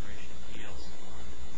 Appeals Act of Rationing And thus, the legal discretion is that I, Mr. Perona-Aguilar v. Holder, Proceed with the Immigration Judge's rebuttal. Although this application was never made by Mr. Perona-Aguilar, the Voluntary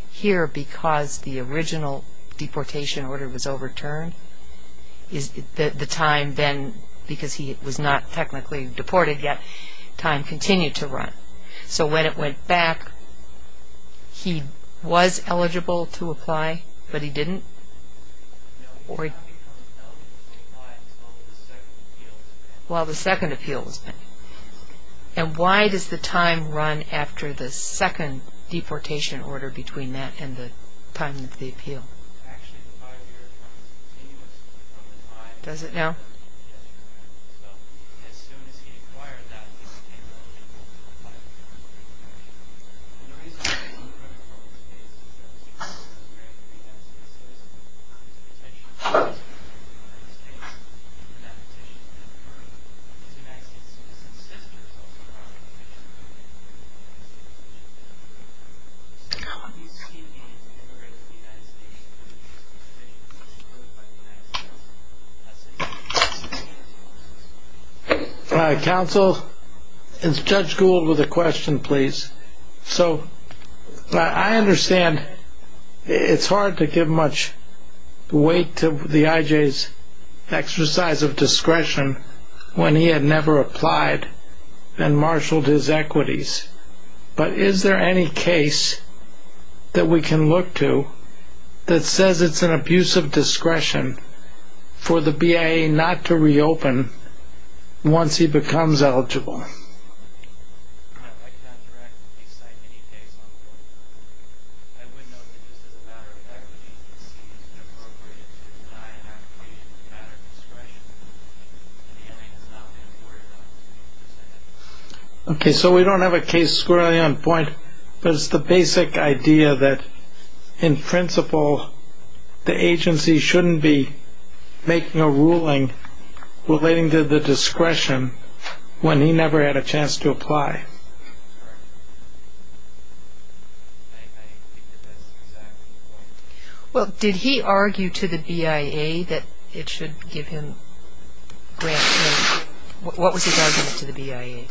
Department regarding this additional rule proceeds, or as a matter of fact proceeds, with both Immigration Judges reciting the word which proceeds, denying that which is in the Voluntary Department. The Voluntary Department's application was denied for the matter in which it proceeds. It was sustained by the Board of Immigration Appeals. However, this application, this application is a denial not only on statutory grounds, which in turn concedes that it was not in fact statutorily known, but it was also denied on discretionary grounds. The problem with this is that it was a problem of whether or not there was any evidence in support of this application from the Voluntary Department. Specifically, the issue was whether or not it had five years of legal service or whether or not it was deferred to the Department. It did not attain that five years of legal service given the current history of the mismanagement of any New England Board of Immigration Appeals Mr. Bolton. Your argument, if I understand it, is premised on the notion that there's a right to apply for voluntary departure. What's the basis of that right? Where do you find the right the petitioner has to apply for voluntary departure? Yes, Your Honor. I do note that it is a discretionary application. It's an application of the Department. It is up to the Federation of Judges who have to find discretion in order to apply to grant a voluntary departure. But in this instance, this assertion was that the application was made under the first prerogative of the petition that the Board of Immigration Appeals was effective. Sustaining the decision and denying it on discretion is a criminal case. And the Board of Immigration Appeals is being denied on discretionary grounds. If the Board of Immigration Appeals wants its discretionary application to be not reviewed as a criminal offense and have an uptick, why is it a criminal offense that it should assess on its decision to suspend a person's decision on an immigration application? That's what we're talking about. Well, this is kind of an unusual procedural case. Normally the time to accrue the good moral character wouldn't run after a person has been ordered deported. But here, because the original deportation order was overturned, the time then, because he was not technically deported yet, time continued to run. So when it went back, he was eligible to apply, but he didn't? No, he did not become eligible to apply until the second appeal was made. While the second appeal was made. And why does the time run after the second deportation order between that and the time of the appeal? Actually, the five-year term is continuous from the time... Does it now? Yes, Your Honor. So as soon as he acquired that, he became eligible to apply. The reason I'm asking you to run a court case is that the Supreme Court of the United States says there's a potential for immigration in the United States, and that petition has been approved. The United States Citizens' District is also running a petition to remove him from the United States legislature. So how do you see the need to immigrate to the United States if the petition is approved by the United States? That's the question. Counsel, it's Judge Gould with a question, please. So I understand it's hard to give much weight to the I.J.'s exercise of discretion when he had never applied and marshaled his equities. But is there any case that we can look to that says it's an abuse of discretion for the BIA not to reopen once he becomes eligible? Okay, so we don't have a case squarely on point, but it's the basic idea that, in principle, the agency shouldn't be making a ruling relating to the discretion when he never had a chance to apply. Well, did he argue to the BIA that it should give him grant money? What was his argument to the BIA?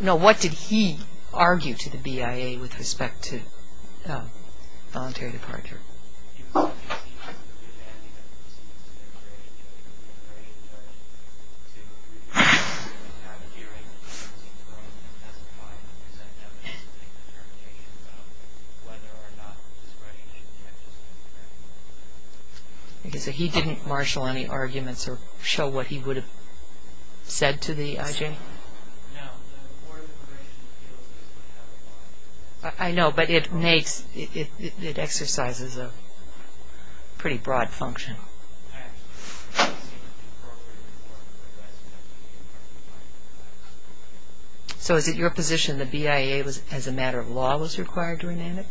No, what did he argue to the BIA with respect to voluntary departure? Okay, so he didn't marshal any arguments or show what he would have said to the I.J.? I know, but it exercises a pretty broad function. So is it your position the BIA, as a matter of law, was required to rename it? He did not have a firm decision as to what was intended. Okay.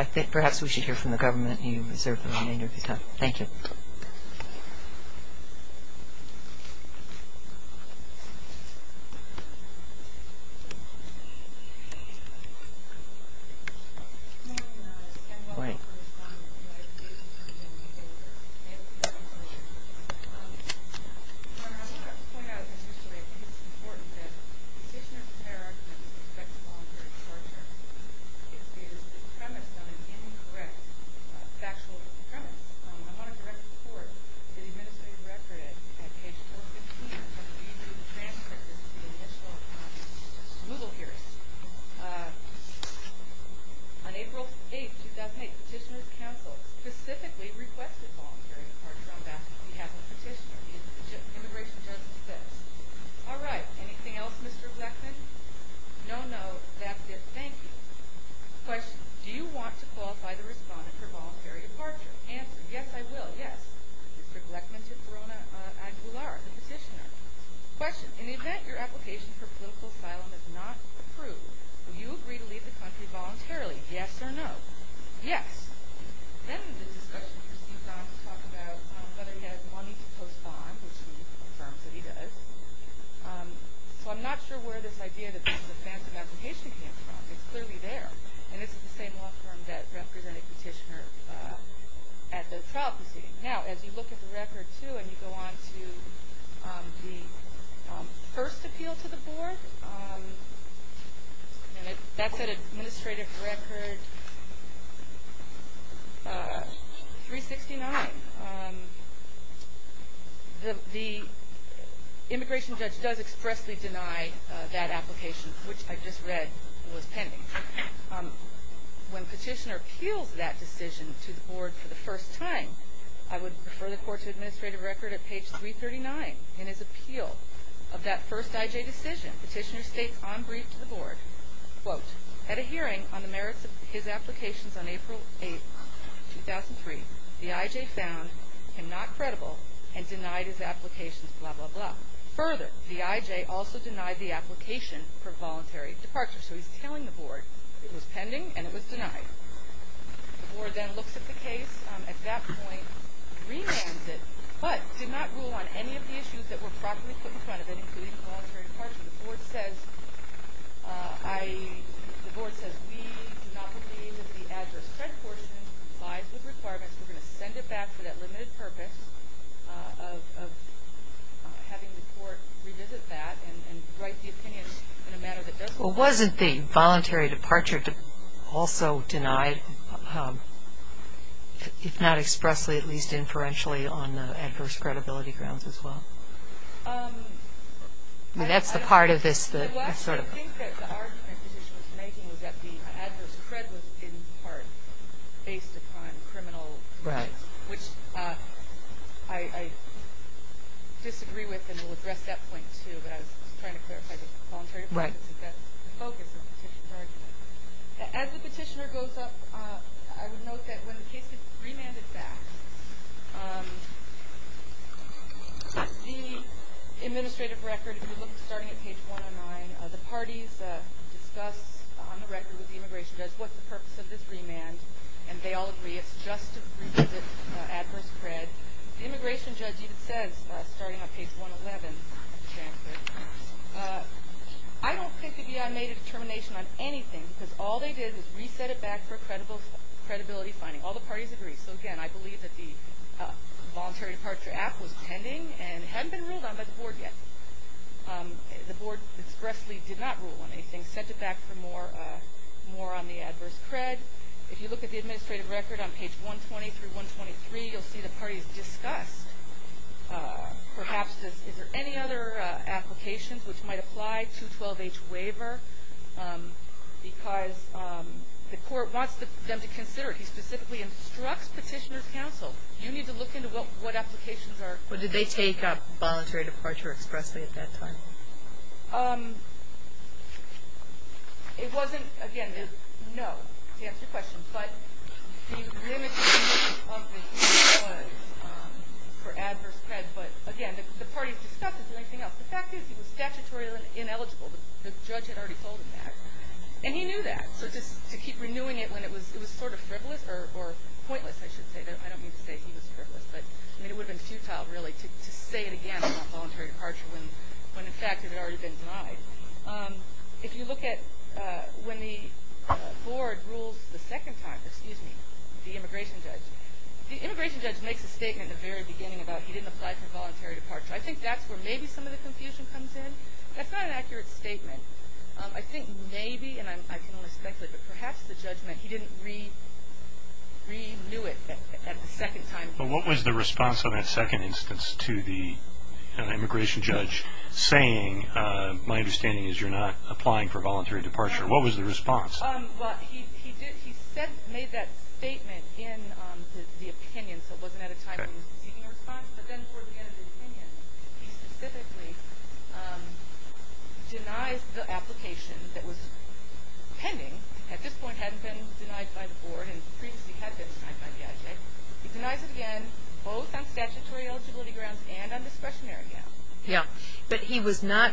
I think perhaps we should hear from the government. You deserve the remainder of your time. Thank you. Petitioner's entire argument with respect to voluntary departure is premised on an incorrect factual premise. I want to direct the court to the administrative record at page 415 of the review of the transcript. This is the initial smoogle here. On April 8, 2008, Petitioner's counsel specifically requested voluntary departure on that. He has a petitioner. He is an immigration justice. All right. Anything else, Mr. Gleckman? No, no. That's it. Thank you. Question. Do you want to qualify the respondent for voluntary departure? Answer. Yes, I will. Yes. Mr. Gleckman to Corona Aguilar, the petitioner. Question. In the event your application for political asylum is not approved, will you agree to leave the country voluntarily? Yes or no? Yes. Then the discussion proceeds on to talk about whether he has money to postpone, which he confirms that he does. So I'm not sure where this idea that this is a phantom application came from. It's clearly there. And this is the same law firm that represented Petitioner at the trial proceeding. Now, as you look at the record, too, and you go on to the first appeal to the board, that's at administrative record 369. The immigration judge does expressly deny that application, which I just read was pending. When Petitioner appeals that decision to the board for the first time, I would refer the court to administrative record at page 339. In his appeal of that first IJ decision, Petitioner states on brief to the board, quote, At a hearing on the merits of his applications on April 8, 2003, the IJ found him not credible and denied his applications, blah, blah, blah. Further, the IJ also denied the application for voluntary departure. So he's telling the board it was pending and it was denied. The board then looks at the case at that point, remands it, but did not rule on any of the issues that were properly put in front of it, including voluntary departure. The board says we do not believe that the adverse credit portion lies with requirements. We're going to send it back for that limited purpose of having the court revisit that and write the opinion in a manner that does comply. Well, wasn't the voluntary departure also denied, if not expressly, at least inferentially, on adverse credibility grounds as well? I mean, that's the part of this that's sort of... Well, actually, I think that the argument Petitioner was making was that the adverse credit was in part based upon criminal reasons, which I disagree with and will address that point too, but I was trying to clarify the voluntary departure, but that's the focus of Petitioner's argument. As the Petitioner goes up, I would note that when the case gets remanded back, the administrative record, if you look starting at page 109, the parties discuss on the record with the immigration judge what's the purpose of this remand, and they all agree it's just to revisit adverse credit. The immigration judge even says, starting on page 111 of the transcript, I don't think the BIA made a determination on anything because all they did was reset it back for credibility finding. All the parties agree. So, again, I believe that the voluntary departure act was pending and hadn't been ruled on by the board yet. The board expressly did not rule on anything, sent it back for more on the adverse cred. If you look at the administrative record on page 120 through 123, you'll see the parties discussed, perhaps, is there any other applications which might apply to 12H waiver because the court wants them to consider it. The BIA specifically instructs petitioner's counsel, you need to look into what applications are. But did they take up voluntary departure expressly at that time? It wasn't, again, no, to answer your question, but the limitation of the clause for adverse cred, but, again, the parties discussed it. The fact is he was statutorily ineligible. The judge had already told him that, and he knew that. So just to keep renewing it when it was sort of frivolous, or pointless, I should say, I don't mean to say he was frivolous, but it would have been futile, really, to say it again about voluntary departure when, in fact, it had already been denied. If you look at when the board rules the second time, the immigration judge, the immigration judge makes a statement at the very beginning about he didn't apply for voluntary departure. I think that's where maybe some of the confusion comes in. That's not an accurate statement. I think maybe, and I don't want to speculate, but perhaps the judge meant he didn't renew it at the second time. Well, what was the response of that second instance to the immigration judge saying, my understanding is you're not applying for voluntary departure? What was the response? Well, he made that statement in the opinion, but then toward the end of the opinion, he specifically denies the application that was pending, at this point hadn't been denied by the board, and previously had been denied by the IJ. He denies it again, both on statutory eligibility grounds and on discretionary grounds. Yeah, but he was not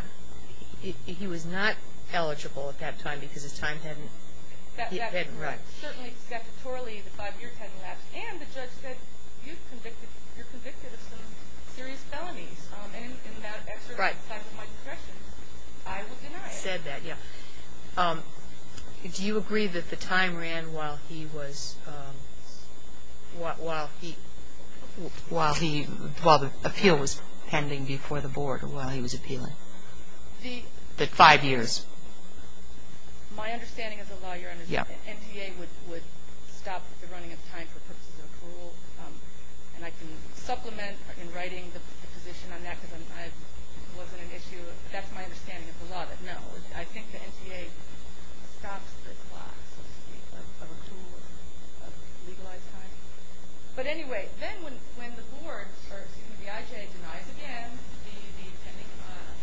eligible at that time because his time hadn't run. Certainly, statutorily, the five years hadn't lapsed, and the judge said you're convicted of some serious felonies, and in that exercise of my discretion, I will deny it. He said that, yeah. Do you agree that the time ran while the appeal was pending before the board, or while he was appealing? The five years. My understanding as a lawyer, NTA would stop the running of time for purposes of approval, and I can supplement in writing the position on that because I wasn't an issue. That's my understanding of the law. But, no, I think the NTA stops the clock, so to speak, of approval of legalized time. But, anyway, then when the board or the IJ denies again the pending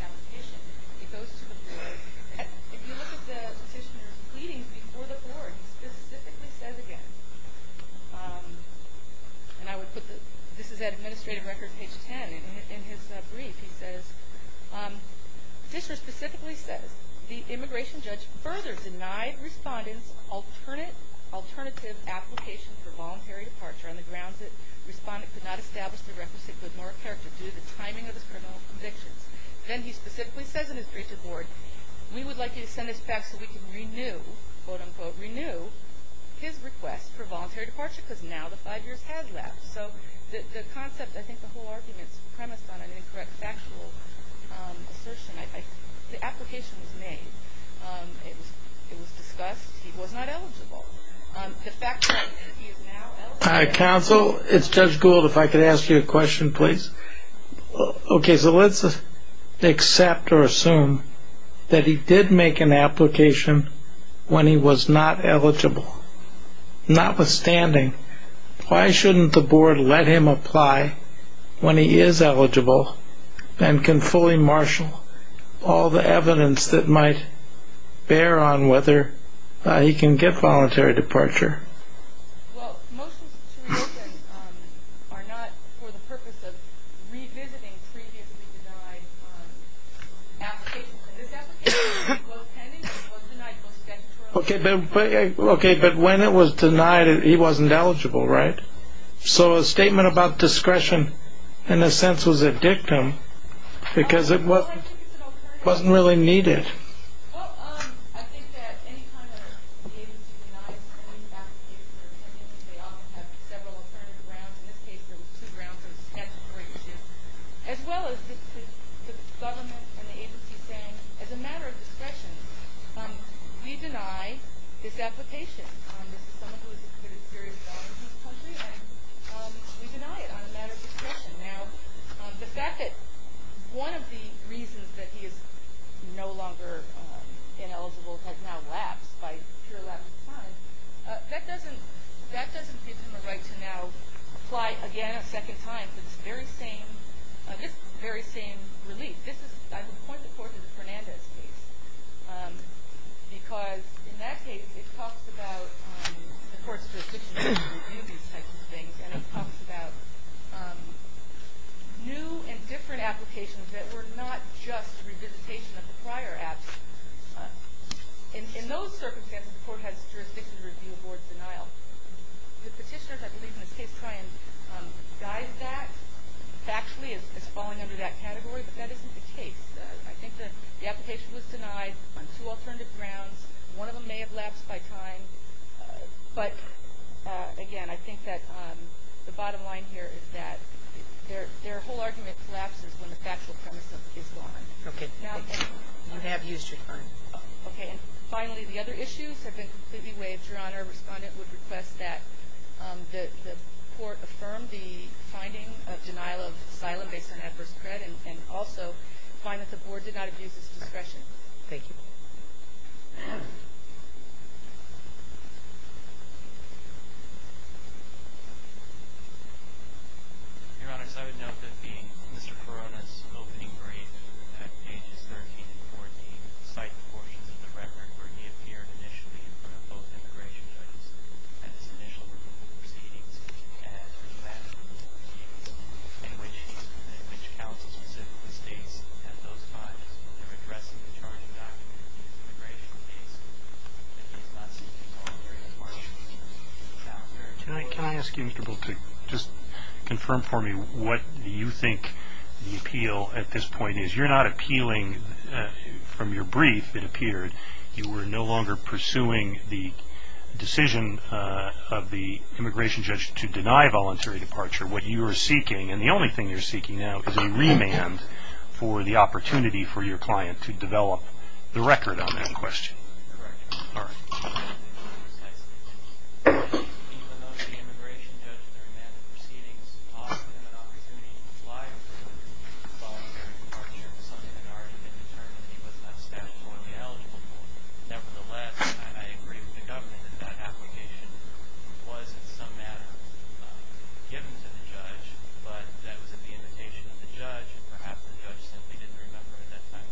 application, it goes to the board. If you look at the petitioner's pleadings before the board, he specifically says again, and I would put this is at administrative records, page 10. In his brief, he says, the petitioner specifically says, the immigration judge further denied respondents alternative application for voluntary departure on the grounds that the respondent could not establish the requisite good moral character due to the timing of his criminal convictions. Then he specifically says in his brief to the board, we would like you to send this back so we can renew, quote, unquote, renew his request for voluntary departure because now the five years has lapsed. So the concept, I think the whole argument is premised on an incorrect factual assertion. The application was made. It was discussed. He was not eligible. The fact is he is now eligible. Counsel, it's Judge Gould. If I could ask you a question, please. Okay, so let's accept or assume that he did make an application when he was not eligible. Notwithstanding, why shouldn't the board let him apply when he is eligible and can fully marshal all the evidence that might bear on whether he can get voluntary departure? Well, most are not for the purpose of revisiting previously denied applications. This application was pending. It was denied most statutorily. Okay, but when it was denied, he wasn't eligible, right? So a statement about discretion, in a sense, was a dictum because it wasn't really needed. Well, I think that any kind of agency that denies an application or a pending one, they often have several alternative grounds. In this case, there were two grounds. There was statutory issue as well as the government and the agency saying, as a matter of discretion, we deny this application. This is someone who has committed serious violence in this country, and we deny it on a matter of discretion. Now, the fact that one of the reasons that he is no longer ineligible has now lapsed, by a pure lack of time, that doesn't give him a right to now apply again a second time for this very same relief. I would point the court to the Fernandez case because, in that case, it talks about the court's jurisdiction to review these types of things, and it talks about new and different applications that were not just a revisitation of the prior act. In those circumstances, the court has jurisdiction to review a board's denial. The petitioners, I believe, in this case, try and guide that. Factually, it's falling under that category, but that isn't the case. I think that the application was denied on two alternative grounds. One of them may have lapsed by time, but, again, I think that the bottom line here is that their whole argument collapses when the factual premise is gone. Okay. You have used your time. Okay. And, finally, the other issues have been completely waived. Your Honor, a respondent would request that the court affirm the finding of denial of asylum based on adverse credit, and also find that the board did not abuse its discretion. Thank you. Your Honor, as I would note, Mr. Perrone's opening brief at Pages 13 and 14 cite portions of the record where he appeared initially in front of both immigration judges at his initial removal proceedings, and he then appeared in which counsel specifically states that those files were addressing the charging document of his immigration case, but he's not seeking voluntary departure. Can I ask you, Mr. Booth, to just confirm for me what you think the appeal at this point is? You're not appealing from your brief, it appeared. You were no longer pursuing the decision of the immigration judge to deny voluntary departure. What you are seeking, and the only thing you're seeking now, is a remand for the opportunity for your client to develop the record on that question. Correct, Your Honor. All right. Even though the immigration judge, during that proceedings, offered him an opportunity to fly for voluntary departure, something that had already been determined that he was not statutorily eligible for, nevertheless, I agree with the government that that application was, in some matter, given to the judge, but that was at the invitation of the judge, and perhaps the judge simply didn't remember at that time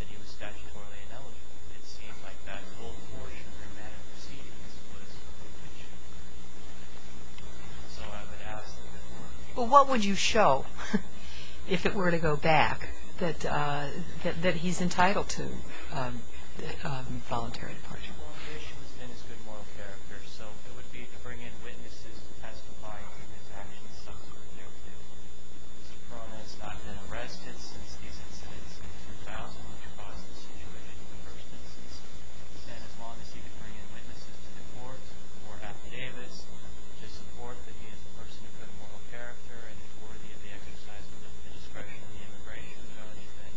that he was statutorily ineligible. It seemed like that whole portion of the remand proceedings was a bit too much. So I would ask that the court... Well, what would you show, if it were to go back, that he's entitled to voluntary departure? Well, I wish he was in his good moral character. So it would be to bring in witnesses to testify to his actions subsequently. Mr. Perrone has not been arrested since these incidents in 2000, which caused the situation in the first instance. And as long as he can bring in witnesses to the court for affidavits to support that he is a person of good moral character and is worthy of the exercise of the discretion of the immigration judge, then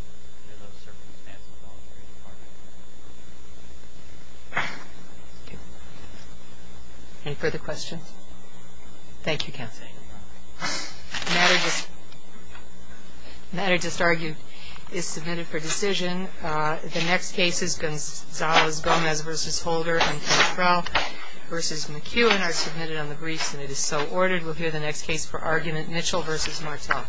there's no circumstance of voluntary departure. Any further questions? Thank you, Counsel. The matter just argued is submitted for decision. The next case is Gonzalez-Gomez v. Holder v. McCue and are submitted on the briefs, and it is so ordered. We'll hear the next case for argument, Mitchell v. Martel. Thank you.